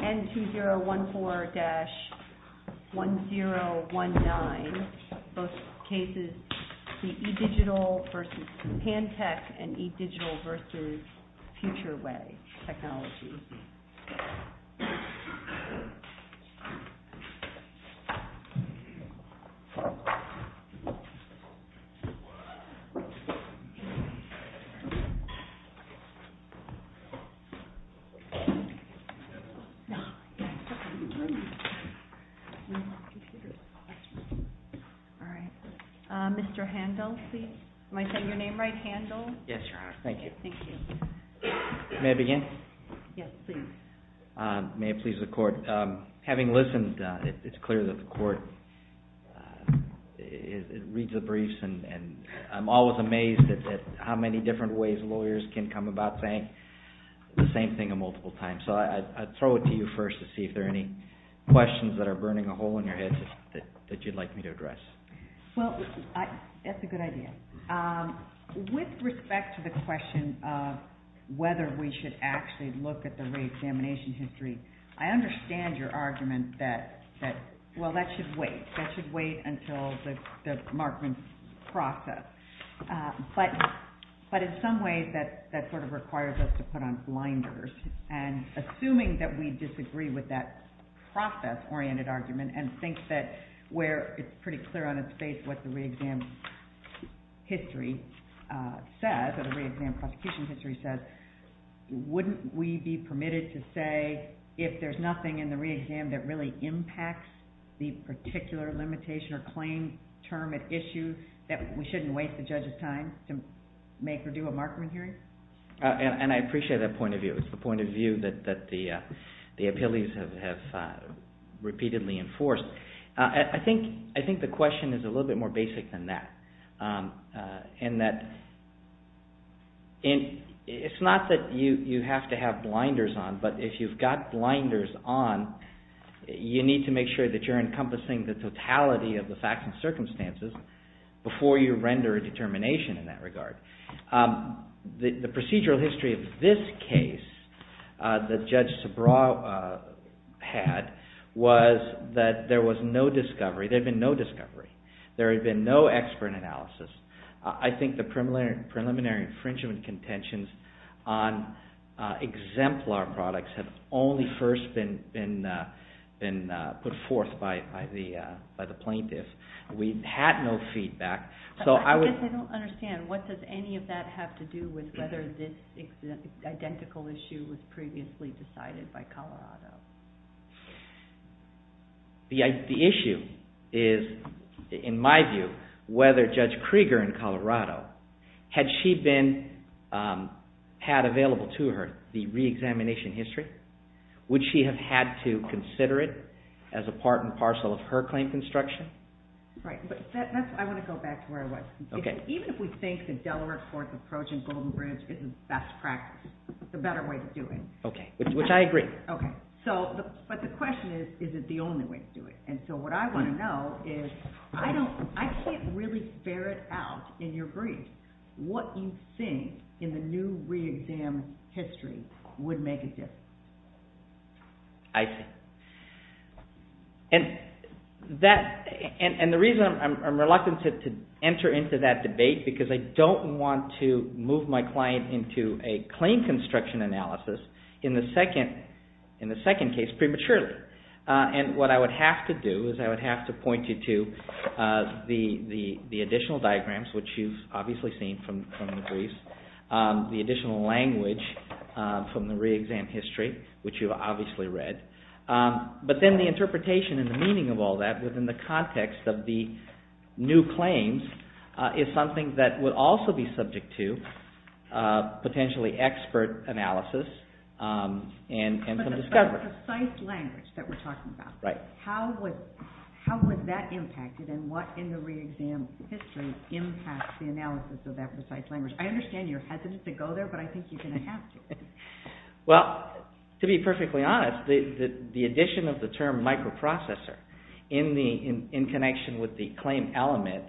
N2014-1019, both cases, the eDigital versus Pantech and eDigital versus FutureWay technology. Thank you for your patience. Mr. Handel, please. Am I saying your name right, Handel? Yes, Your Honor. Thank you. May I begin? Yes, please. May it please the Court. Having listened, it's clear that the Court reads the briefs and I'm always amazed at how many different ways lawyers can come about saying the same thing multiple times. So I'd throw it to you first to see if there are any questions that are burning a hole in your heads that you'd like me to address. Well, that's a good idea. With respect to the question of whether we should actually look at the reexamination history, I understand your argument that, well, that should wait. That should wait until the markman process. But in some ways, that sort of requires us to put on blinders. And assuming that we disagree with that process-oriented argument and think that where it's pretty clear on its face what the reexam history says or the reexam prosecution history says, wouldn't we be permitted to say, if there's nothing in the reexam that really impacts the particular limitation or claim term at issue, that we shouldn't waste the judge's time to make or do a markman hearing? And I appreciate that point of view. It's the point of view that the appellees have repeatedly enforced. I think the question is a little bit more basic than that, in that it's not that you have to have blinders on, but if you've got blinders on, you need to make sure that you're encompassing the totality of the facts and circumstances before you render a determination in that regard. The procedural history of this case that Judge Sabraw had was that there was no discovery. There had been no discovery. There had been no expert analysis. I think the preliminary infringement contentions on exemplar products had only first been put forth by the plaintiff. We had no feedback. I guess I don't understand. What does any of that have to do with whether this identical issue was previously decided by Colorado? The issue is, in my view, whether Judge Krieger in Colorado, had she had available to her the reexamination history, would she have had to consider it as a part and parcel of her claim construction? I want to go back to where I was. Even if we think the Delaware Court's approach in Golden Bridge is the best practice, it's a better way of doing it. Okay. Which I agree. Okay. But the question is, is it the only way to do it? What I want to know is, I can't really bear it out in your brief what you think in the new reexam history would make a difference. I see. And the reason I'm reluctant to enter into that debate, because I don't want to move my client into a claim construction analysis, in the second case, prematurely. And what I would have to do, is I would have to point you to the additional diagrams, which you've obviously seen from the briefs, the additional language from the reexam history, which you've obviously read. But then the interpretation and the meaning of all that, within the context of the new claims, is something that would also be subject to potentially expert analysis and some discovery. But the precise language that we're talking about. Right. How would that impact it, and what in the reexam history impacts the analysis of that precise language? I understand you're hesitant to go there, but I think you're going to have to. Well, to be perfectly honest, the addition of the term microprocessor in connection with the claim element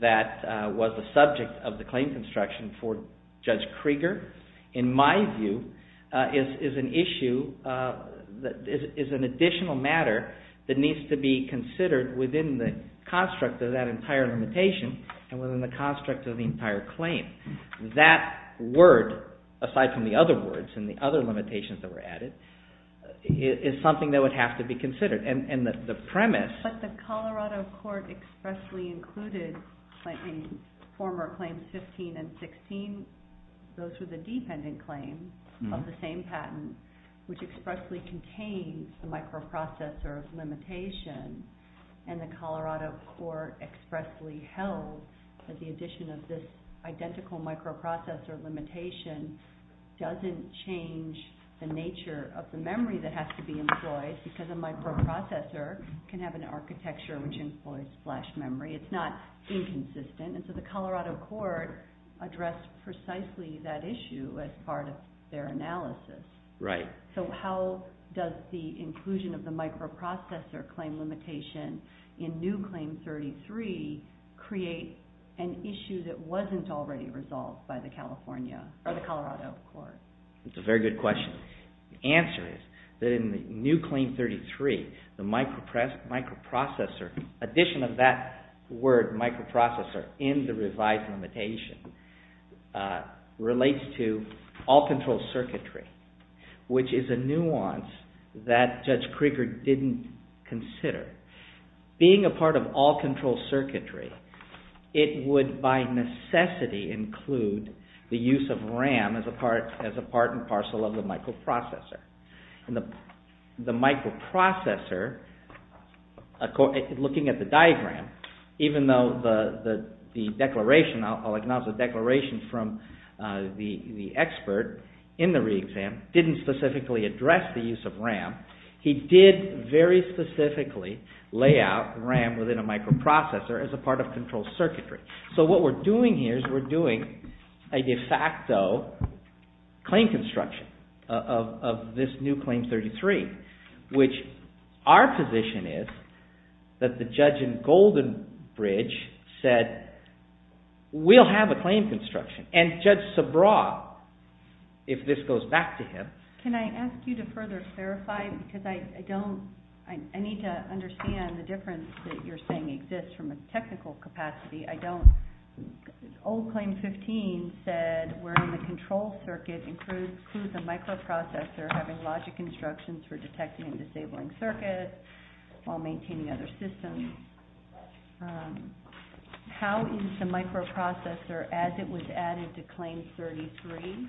that was the subject of the claim construction for Judge Krieger, in my view, is an issue, is an additional matter that needs to be considered within the construct of that entire limitation, and within the construct of the entire claim. That word, aside from the other words and the other limitations that were added, is something that would have to be considered. And the premise... But the Colorado Court expressly included in former Claims 15 and 16, those were the dependent claims of the same patent, which expressly contains the microprocessor limitation, and the Colorado Court expressly held that the addition of this identical microprocessor limitation doesn't change the nature of the memory that has to be employed, because a microprocessor can have an architecture which employs flash memory. It's not inconsistent. And so the Colorado Court addressed precisely that issue as part of their analysis. Right. So how does the inclusion of the microprocessor claim limitation in new Claim 33 create an issue that wasn't already resolved by the California, or the Colorado Court? That's a very good question. The answer is that in the new Claim 33, the microprocessor, addition of that word microprocessor in the revised limitation relates to all control circuitry, which is a nuance that Judge Krieger didn't consider. Being a part of all control circuitry, it would by necessity include the use of RAM as a part and parcel of the microprocessor. The microprocessor, looking at the diagram, even though the declaration, I'll acknowledge the declaration from the expert in the re-exam, didn't specifically address the use of RAM, he did very specifically lay out RAM within a microprocessor as a part of control circuitry. So what we're doing here is we're doing a de facto claim construction of this new Claim 33, which our position is that the judge in Goldenbridge said, we'll have a claim construction. And Judge Sabraw, if this goes back to him. Can I ask you to further clarify? Because I don't, I need to understand the difference that you're saying exists from a technical capacity. I don't, old Claim 15 said, where in the control circuit includes a microprocessor having logic instructions for detecting and disabling circuits while maintaining other systems. How is the microprocessor as it was added to Claim 33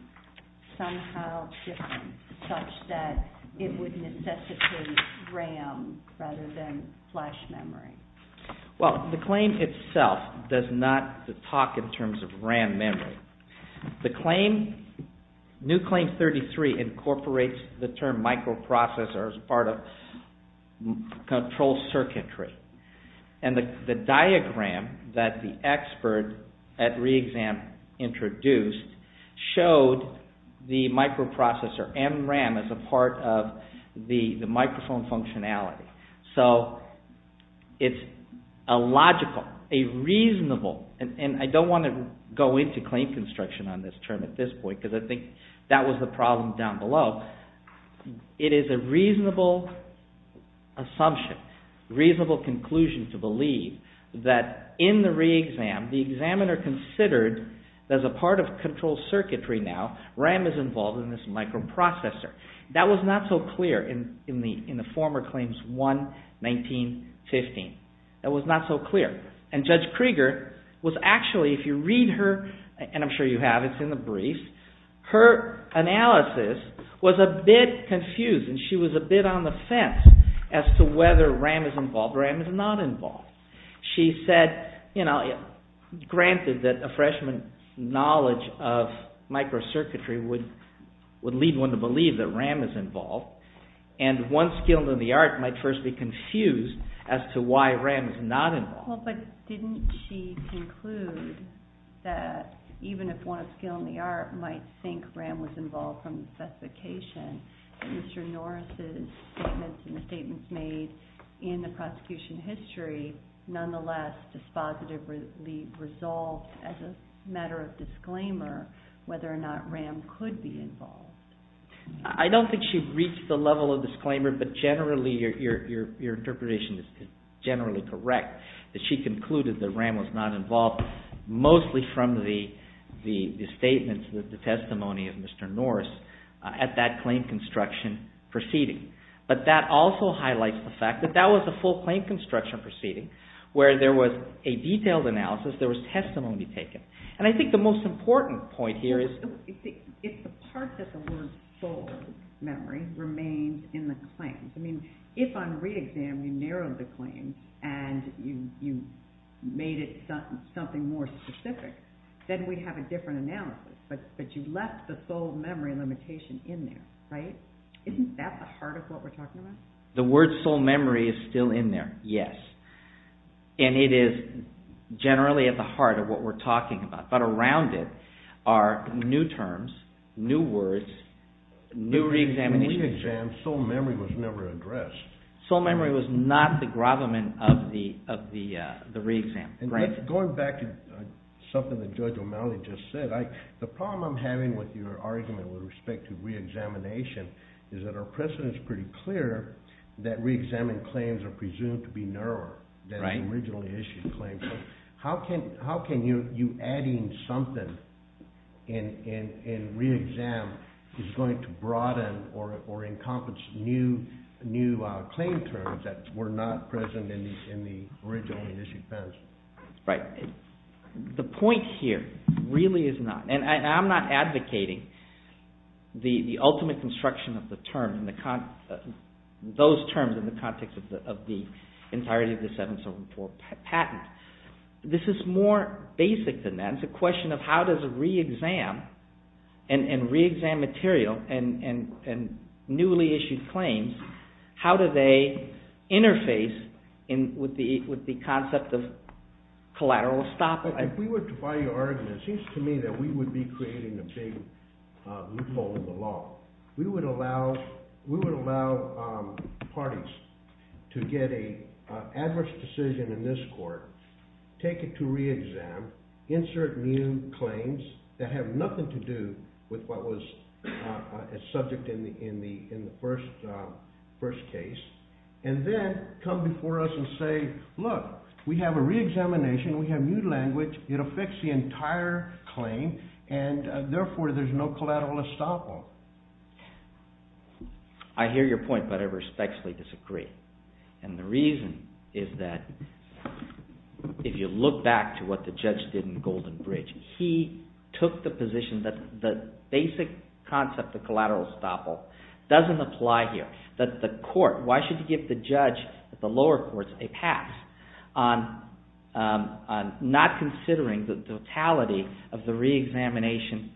somehow different such that it would necessitate RAM rather than flash memory? Well, the claim itself does not talk in terms of RAM memory. The claim, new Claim 33 incorporates the term microprocessor as part of control circuitry. And the diagram that the expert at re-exam introduced showed the microprocessor and RAM as a part of the microphone functionality. So, it's a logical, a reasonable, and I don't want to go into claim construction on this term at this point because I think that was the problem down below. It is a reasonable assumption, reasonable conclusion to believe that in the re-exam, the examiner considered as a part of control circuitry now, RAM is involved in this microprocessor. That was not so clear in the former Claims 1, 19, 15. That was not so clear. And Judge Krieger was actually, if you read her, and I'm sure you have, it's in the brief, her analysis was a bit confused and she was a bit on the fence as to whether RAM is involved or RAM is not involved. She said, you know, granted that a freshman's knowledge of microcircuitry would lead one to believe that RAM is involved, and one skilled in the art might first be confused as to why RAM is not involved. Well, but didn't she conclude that even if one skilled in the art might think RAM was involved from the specification, Mr. Norris' statements and the statements made in the prosecution history nonetheless dispositively resolved as a matter of disclaimer whether or not RAM could be involved? I don't think she reached the level of disclaimer, but generally your interpretation is generally correct, that she concluded that RAM was not involved mostly from the statements, the testimony of Mr. Norris at that claim construction proceeding. But that also highlights the fact that that was a full claim construction proceeding where there was a detailed analysis, there was testimony taken. And I think the most important point here is... If the part that the word soul memory remains in the claims, I mean, if on re-exam you narrowed the claims and you made it something more specific, then we'd have a different analysis, but you left the soul memory limitation in there, right? Isn't that the heart of what we're talking about? The word soul memory is still in there, yes. And it is generally at the heart of what we're talking about, but around it are new terms, new words, new re-examinations. The re-exam soul memory was never addressed. Soul memory was not the gravamen of the re-exam. Going back to something that Judge O'Malley just said, the problem I'm having with your argument with respect to re-examination is that our precedent is pretty clear that re-examined claims are presumed to be narrower than the originally issued claims. How can you adding something in re-exam is going to broaden or encompass new claim terms that were not present in the originally issued claims? Right. The point here really is not, and I'm not advocating the ultimate construction of the those terms in the context of the entirety of the 774 patent. This is more basic than that. It's a question of how does a re-exam and re-exam material and newly issued claims, how do they interface with the concept of collateral estoppel? If we were to buy your argument, it seems to me that we would be creating a big loophole in the law. We would allow parties to get an adverse decision in this court, take it to re-exam, insert new claims that have nothing to do with what was a subject in the first case, and then come before us and say, look, we have a re-examination, we have new language, it'll fix the entire claim, and therefore there's no collateral estoppel. I hear your point, but I respectfully disagree. And the reason is that if you look back to what the judge did in Golden Bridge, he took the position that the basic concept of collateral estoppel doesn't apply here. Why should you give the judge at the lower courts a pass on not considering the totality of the re-examination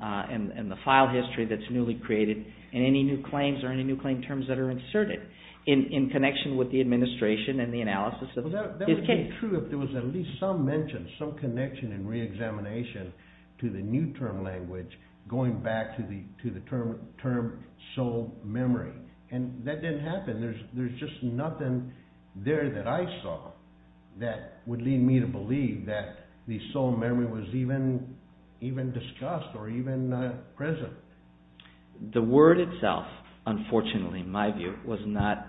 and the file history that's newly created and any new claims or any new claim terms that are inserted in connection with the administration and the analysis of his case? That would be true if there was at least some mention, some connection in re-examination to the new term language going back to the term sole memory. And that didn't happen. There's just nothing there that I saw that would lead me to believe that the sole memory was even discussed or even present. The word itself, unfortunately, in my view, was not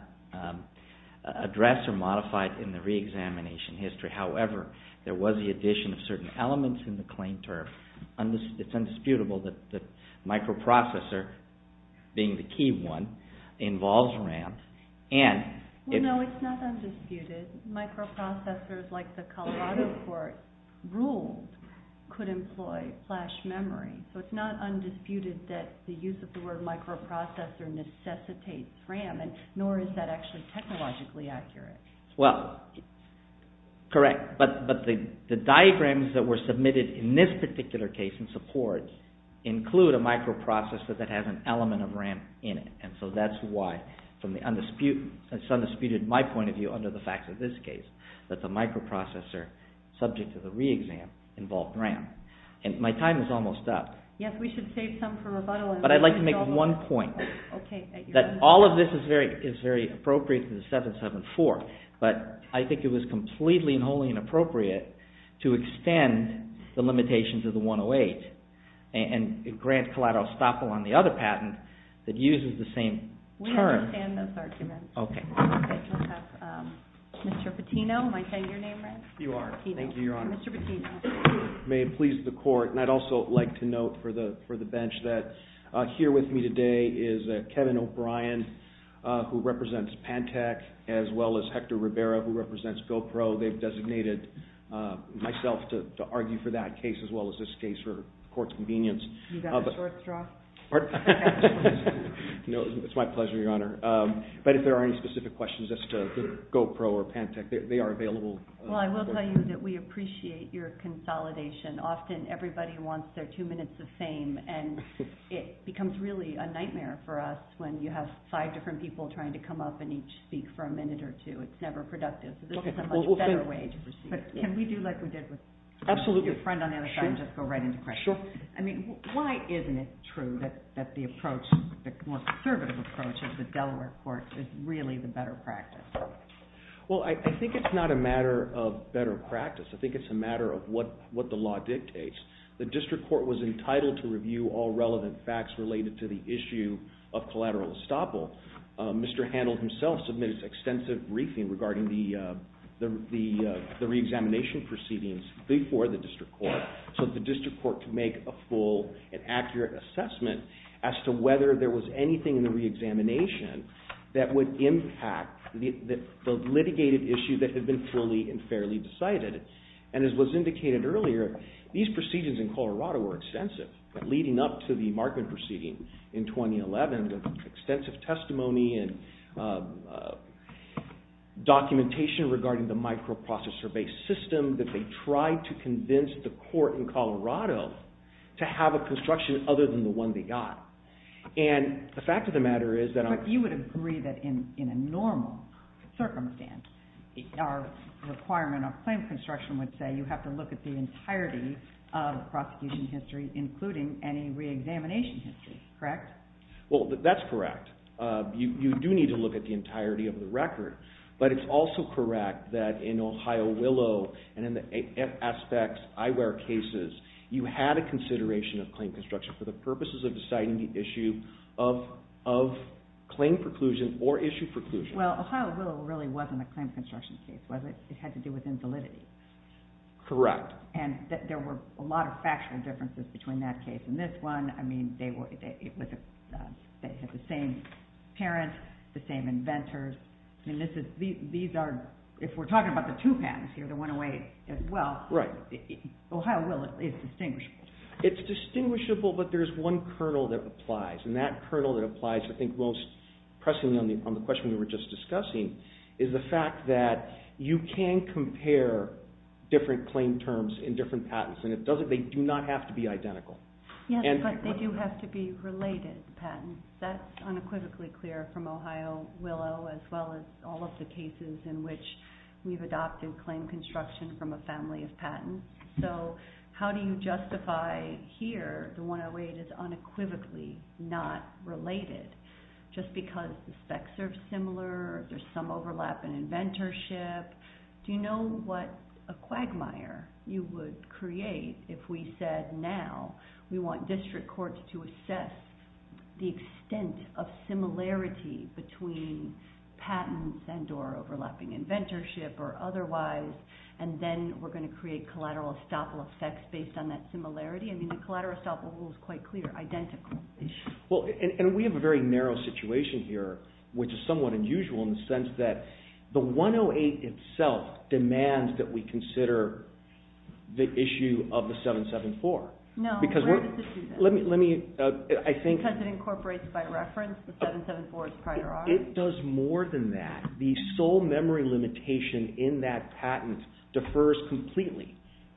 addressed or modified in the re-examination history. However, there was the addition of certain elements in the claim term. It's indisputable that microprocessor, being the key one, involves RAM. No, it's not undisputed. Microprocessors, like the Colorado court ruled, could employ flash memory. So it's not undisputed that the use of the word microprocessor necessitates RAM, nor is that actually technologically accurate. Well, correct. But the diagrams that were submitted in this particular case in support include a microprocessor that has an element of RAM in it. And so that's why it's undisputed in my point of view under the facts of this case that the microprocessor, subject to the re-exam, involved RAM. And my time is almost up. Yes, we should save some for rebuttal. But I'd like to make one point. That all of this is very appropriate to the 774, but I think it was completely and wholly inappropriate to extend the limitations of the 108 and grant collateral estoppel on the other patent that uses the same term. We understand those arguments. Okay. Mr. Patino, am I saying your name right? You are. Thank you, Your Honor. Mr. Patino. May it please the Court. And I'd also like to note for the bench that here with me today is Kevin O'Brien, who represents Pantech, as well as Hector Rivera, who represents GoPro. They've designated myself to argue for that case as well as this case for the Court's convenience. You got a short straw? Pardon? No, it's my pleasure, Your Honor. But if there are any specific questions as to GoPro or Pantech, they are available. Well, I will tell you that we appreciate your consolidation. Often everybody wants their two minutes of fame, and it becomes really a nightmare for us when you have five different people trying to come up and each speak for a minute or two. It's never productive. So this is a much better way to proceed. But can we do like we did with your friend on the other side and just go right into questions? Sure. I mean, why isn't it true that the approach, the more conservative approach of the Delaware Court, is really the better practice? Well, I think it's not a matter of better practice. I think it's a matter of what the law dictates. The District Court was entitled to review all relevant facts related to the issue of collateral estoppel. Mr. Handel himself submitted extensive briefing regarding the reexamination proceedings before the District Court so the District Court could make a full and accurate assessment as to whether there was anything in the reexamination that would impact the litigated issue that had been fully and fairly decided. And as was indicated earlier, these proceedings in Colorado were extensive, leading up to the Markman proceeding in 2011 with extensive testimony and documentation regarding the microprocessor-based system that they tried to convince the court in Colorado to have a construction other than the one they got. And the fact of the matter is that... But you would agree that in a normal circumstance, our requirement of claim construction would say you have to look at the entirety of the prosecution history, including any reexamination history, correct? Well, that's correct. You do need to look at the entirety of the record. But it's also correct that in Ohio Willow and in the aspects, eyewear cases, you had a consideration of claim construction for the purposes of deciding the issue of claim preclusion or issue preclusion. Well, Ohio Willow really wasn't a claim construction case, was it? It had to do with insolidity. Correct. And there were a lot of factual differences between that case and this one. I mean, they had the same parents, the same inventors. I mean, these are... If we're talking about the two patents here, the 108 as well, Ohio Willow is distinguishable. It's distinguishable, but there's one kernel that applies, and that kernel that applies, I think, most pressingly on the question we were just discussing is the fact that you can compare different claim terms in different patents, and they do not have to be identical. Yes, but they do have to be related patents. That's unequivocally clear from Ohio Willow as well as all of the cases in which we've adopted claim construction from a family of patents. So how do you justify here the 108 is unequivocally not related just because the specs are similar, there's some overlap in inventorship? Do you know what a quagmire you would create if we said now we want district courts to assess the extent of similarity between patents and or overlapping inventorship or otherwise, and then we're going to create collateral estoppel effects based on that similarity? I mean, the collateral estoppel rule is quite clear, identical. Well, and we have a very narrow situation here, which is somewhat unusual in the sense that the 108 itself demands that we consider the issue of the 774. No, where does it do that? Because it incorporates it by reference, the 774 is prior audit. It does more than that. The sole memory limitation in that patent defers completely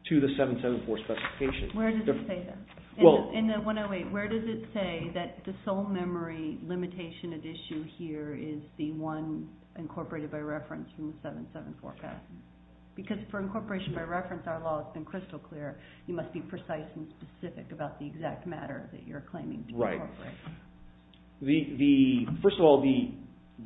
to the 774 specification. Where does it say that? In the 108, where does it say that the sole memory limitation at issue here is the one incorporated by reference from the 774 patent? Because for incorporation by reference, our law has been crystal clear. You must be precise and specific about the exact matter that you're claiming to incorporate. First of all,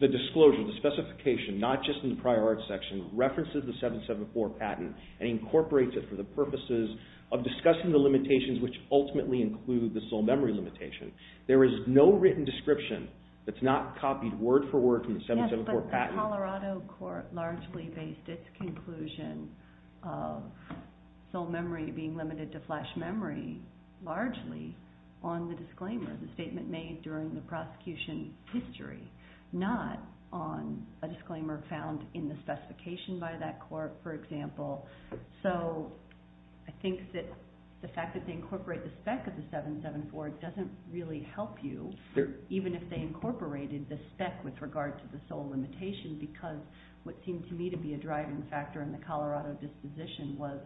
the disclosure, the specification, not just in the prior audit section, references the 774 patent and incorporates it for the purposes of discussing the limitations which ultimately include the sole memory limitation. There is no written description that's not copied word for word from the 774 patent. Yes, but the Colorado court largely based its conclusion of sole memory being limited to flash memory, largely, on the disclaimer. The statement made during the prosecution history, not on a disclaimer found in the specification by that court, for example. So I think that the fact that they incorporate the spec of the 774 doesn't really help you, even if they incorporated the spec with regard to the sole limitation because what seemed to me to be a driving factor in the Colorado disposition was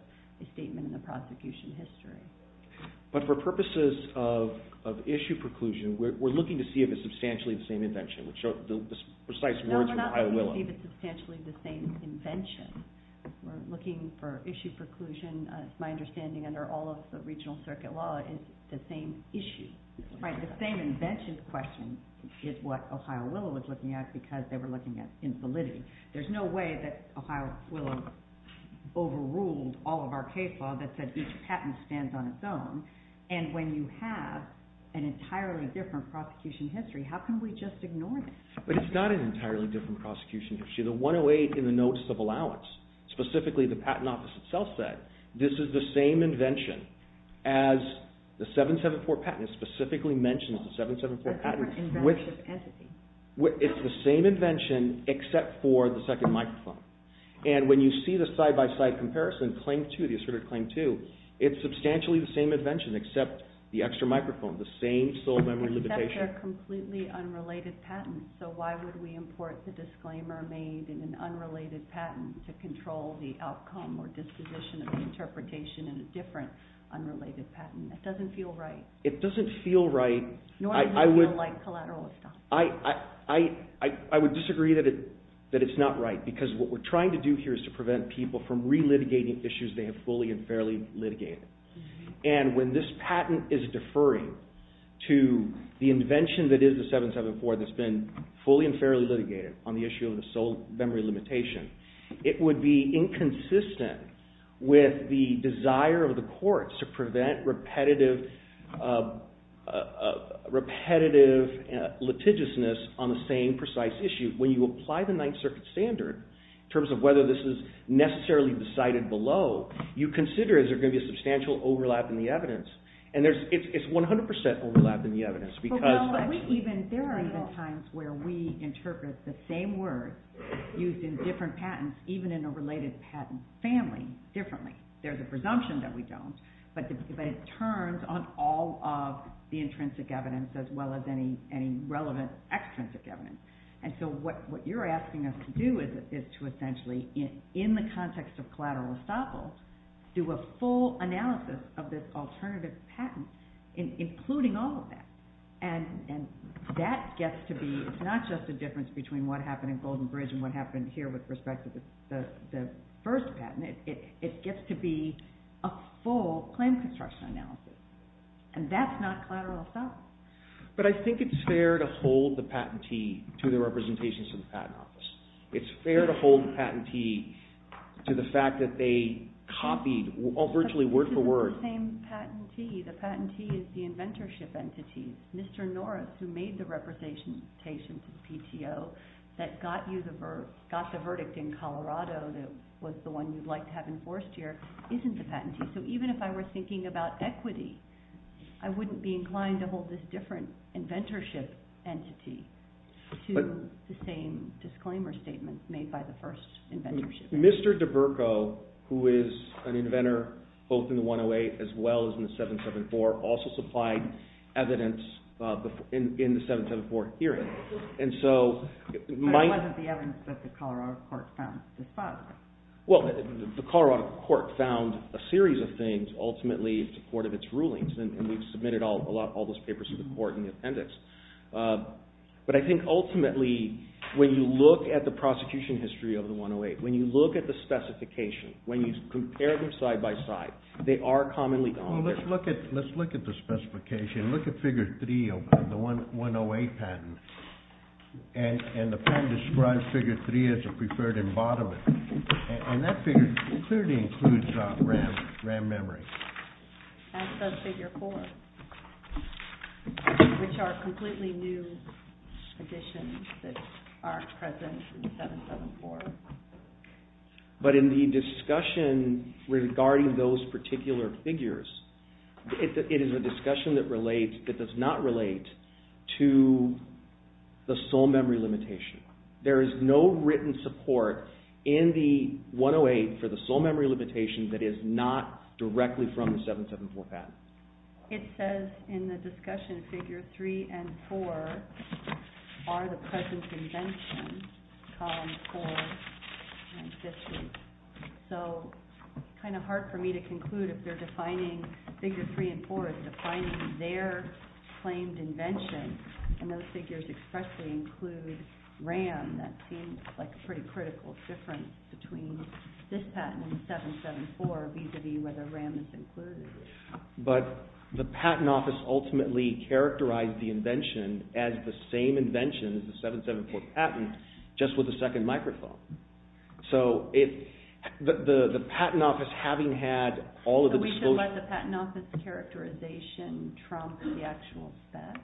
a statement in the prosecution history. But for purposes of issue preclusion, we're looking to see if it's substantially the same invention. We'll show the precise words from Ohio Willow. No, we're not looking to see if it's substantially the same invention. We're looking for issue preclusion. It's my understanding, under all of the regional circuit law, it's the same issue. Right, the same invention question is what Ohio Willow was looking at because they were looking at invalidity. There's no way that Ohio Willow overruled all of our case law that said each patent stands on its own. And when you have an entirely different prosecution history, how can we just ignore this? But it's not an entirely different prosecution history. The 108 in the Notice of Allowance, specifically the Patent Office itself said this is the same invention as the 774 patent. It specifically mentions the 774 patent. It's the same invention except for the second microphone. And when you see the side-by-side comparison, the Asserted Claim 2, it's substantially the same invention except the extra microphone, the same sole memory limitation. Except they're completely unrelated patents. So why would we import the disclaimer made in an unrelated patent to control the outcome or disposition of the interpretation in a different unrelated patent? It doesn't feel right. It doesn't feel right. Nor does it feel like collateralism. I would disagree that it's not right because what we're trying to do here is to prevent people from re-litigating issues they have fully and fairly litigated. And when this patent is deferring to the invention that is the 774 that's been fully and fairly litigated on the issue of the sole memory limitation, it would be inconsistent with the desire of the courts to prevent repetitive litigiousness on the same precise issue. When you apply the Ninth Circuit standard in terms of whether this is necessarily decided below, you consider is there going to be a substantial overlap in the evidence. And it's 100% overlap in the evidence. There are even times where we interpret the same word used in different patents, even in a related patent family differently. There's a presumption that we don't, but it turns on all of the intrinsic evidence as well as any relevant extrinsic evidence. And so what you're asking us to do is to essentially, in the context of collateral estoppel, do a full analysis of this alternative patent, including all of that. And that gets to be, it's not just a difference between what happened in Golden Bridge and what happened here with respect to the first patent. It gets to be a full claim construction analysis. And that's not collateral estoppel. But I think it's fair to hold the patentee to the representations of the patent office. It's fair to hold the patentee to the fact that they copied virtually word for word. But this isn't the same patentee. The patentee is the inventorship entity. Mr. Norris, who made the representations of PTO that got the verdict in Colorado that was the one you'd like to have enforced here, isn't the patentee. So even if I were thinking about equity, I wouldn't be inclined to hold this different inventorship entity to the same disclaimer statement made by the first inventorship entity. Mr. DeBurco, who is an inventor both in the 108 as well as in the 774, also supplied evidence in the 774 hearing. And so... But it wasn't the evidence that the Colorado court found. Well, the Colorado court found a series of things, ultimately, in support of its rulings. And we've submitted all those papers to the court in the appendix. But I think ultimately, when you look at the prosecution history of the 108, when you look at the specification, when you compare them side by side, they are commonly... Well, let's look at the specification. Look at figure 3 of the 108 patent. And the patent describes figure 3 as a preferred embodiment. And that figure clearly includes RAM memory. And does figure 4, which are completely new additions that aren't present in 774. But in the discussion regarding those particular figures, it is a discussion that does not relate to the sole memory limitation. There is no written support in the 108 for the sole memory limitation that is not directly from the 774 patent. It says in the discussion figure 3 and 4 are the present invention, columns 4 and 50. So, kind of hard for me to conclude if they're defining figure 3 and 4 as defining their claimed invention. And those figures expressly include RAM. That seems like a pretty critical difference between this patent and 774, vis-a-vis whether RAM is included. But the patent office ultimately characterized the invention as the same invention as the 774 patent, just with a second microphone. So, the patent office, having had all of the disclosure... We should let the patent office characterization trump the actual spec.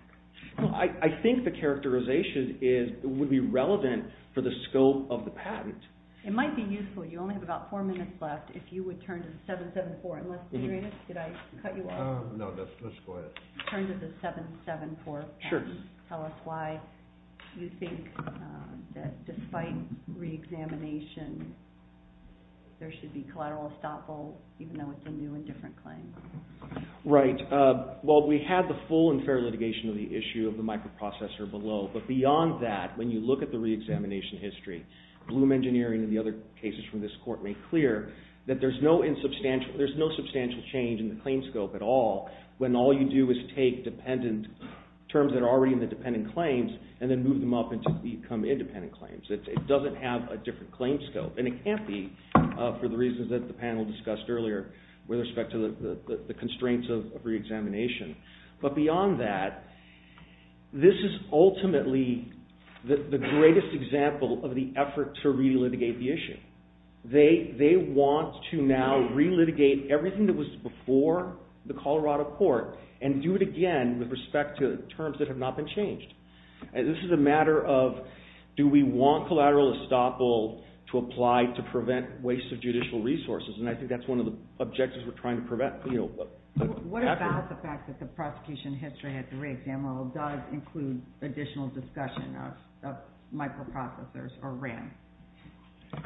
I think the characterization would be relevant for the scope of the patent. It might be useful. You only have about four minutes left. If you would turn to 774. Did I cut you off? No, let's go ahead. Turn to the 774 patent. Tell us why you think that despite re-examination, there should be collateral estoppel even though it's a new and different claim. Right. Well, we had the full and fair litigation of the issue of the microprocessor below. But beyond that, when you look at the re-examination history, Bloom Engineering and the other cases from this court make clear that there's no substantial change in the claim scope at all when all you do is take dependent terms that are already in the dependent claims and then move them up into becoming independent claims. It doesn't have a different claim scope. And it can't be for the reasons that the panel discussed earlier with respect to the constraints of re-examination. But beyond that, this is ultimately the greatest example of the effort to re-litigate the issue. They want to now re-litigate everything that was before the Colorado court and do it again with respect to terms that have not been changed. This is a matter of do we want collateral estoppel to apply to prevent waste of judicial resources? And I think that's one of the objectives we're trying to prevent. What about the fact that the prosecution history at the re-examinal does include additional discussion of microprocessors or RAM?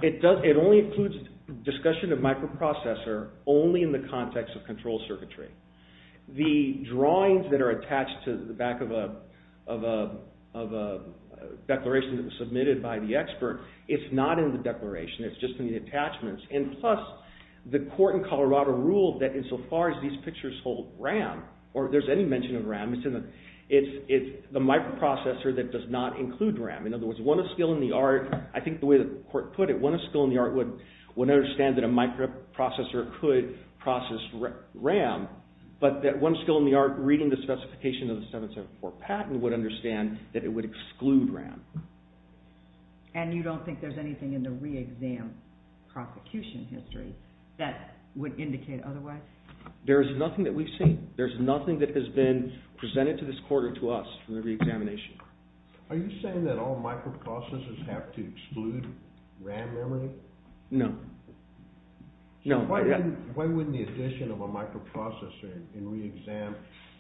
It only includes discussion of microprocessor only in the context of control circuitry. The drawings that are attached to the back of a declaration that was submitted by the expert, it's not in the declaration. It's just in the attachments. And plus, the court in Colorado ruled that insofar as these pictures hold RAM, or if there's any mention of RAM, it's the microprocessor that does not include RAM. In other words, one of skill in the art, I think the way the court put it, one of skill in the art would understand that a microprocessor could process RAM, but that one skill in the art reading the specification of the 774 patent would understand that it would exclude RAM. And you don't think there's anything in the re-exam prosecution history that would indicate otherwise? There's nothing that we've seen. There's nothing that has been presented to this court or to us for the re-examination. Are you saying that all microprocessors have to exclude RAM memory? No. Why wouldn't the addition of a microprocessor in re-exam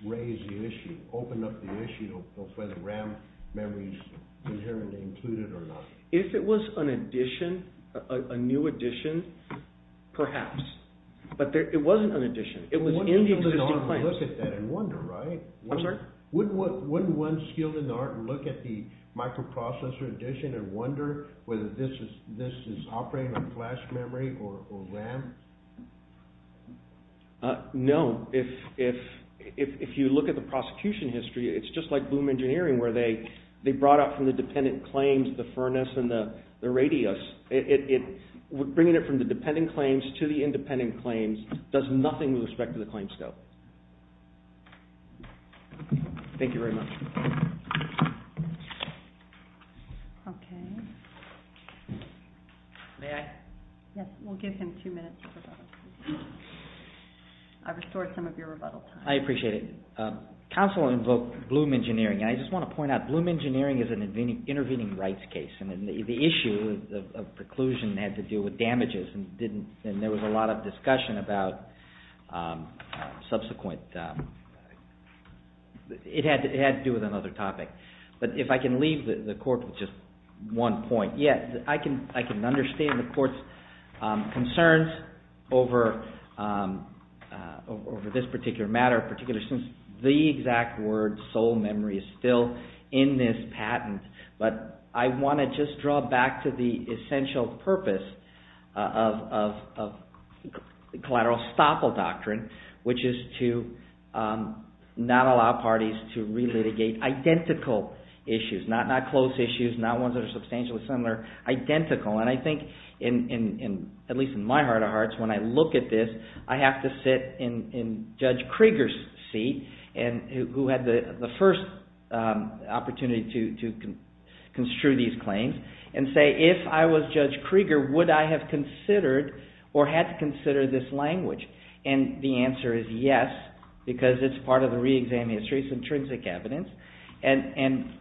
raise the issue, open up the issue of whether RAM memory is inherently included or not? If it was an addition, a new addition, perhaps. But it wasn't an addition. Wouldn't one skill in the art look at that and wonder, right? I'm sorry? Wouldn't one skill in the art look at the microprocessor addition and wonder whether this is operating on flash memory or RAM? No. If you look at the prosecution history, it's just like boom engineering where they brought up from the dependent claims the furnace and the radius. Bringing it from the dependent claims to the independent claims does nothing with respect to the claim scope. Thank you very much. Okay. May I? Yes, we'll give him two minutes for rebuttal. I've restored some of your rebuttal time. I appreciate it. Counsel will invoke bloom engineering and I just want to point out bloom engineering is an intervening rights case. The issue of preclusion had to do with damages and there was a lot of discussion about subsequent... It had to do with another topic. But if I can leave the court with just one point. Yes, I can understand the court's concerns over this particular matter, particularly since the exact word is still in this patent. But I want to just draw back to the essential purpose of collateral estoppel doctrine which is to not allow parties to relitigate identical issues. Not close issues, not ones that are substantially similar, identical. And I think, at least in my heart of hearts, when I look at this, I have to sit in Judge Krieger's seat who had the first opportunity to construe these claims and say, if I was Judge Krieger, would I have considered or had to consider this language? And the answer is yes because it's part of the re-exam history, it's intrinsic evidence and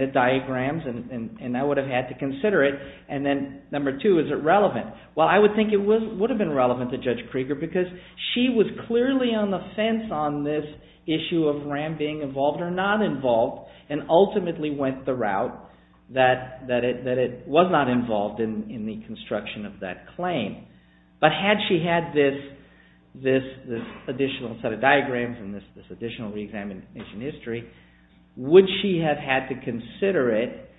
the diagrams and I would have had to consider it. And then number two, is it relevant? Well, I would think it would have been relevant to Judge Krieger because she was clearly on the fence on this issue of RAM being involved or not involved and ultimately went the route that it was not involved in the construction of that claim. But had she had this additional set of diagrams and this additional re-examination history, would she have had to consider it?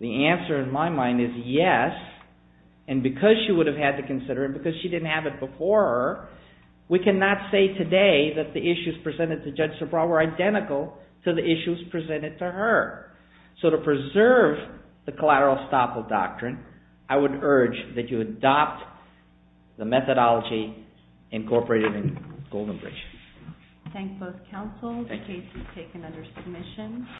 The answer in my mind is yes and because she would have had to consider it, because she didn't have it before her, we cannot say today that the issues presented to Judge Sobral were identical to the issues presented to her. So to preserve the collateral estoppel doctrine, I would urge that you adopt the methodology incorporated in Goldenbridge. I thank both counsels. The case is taken under submission.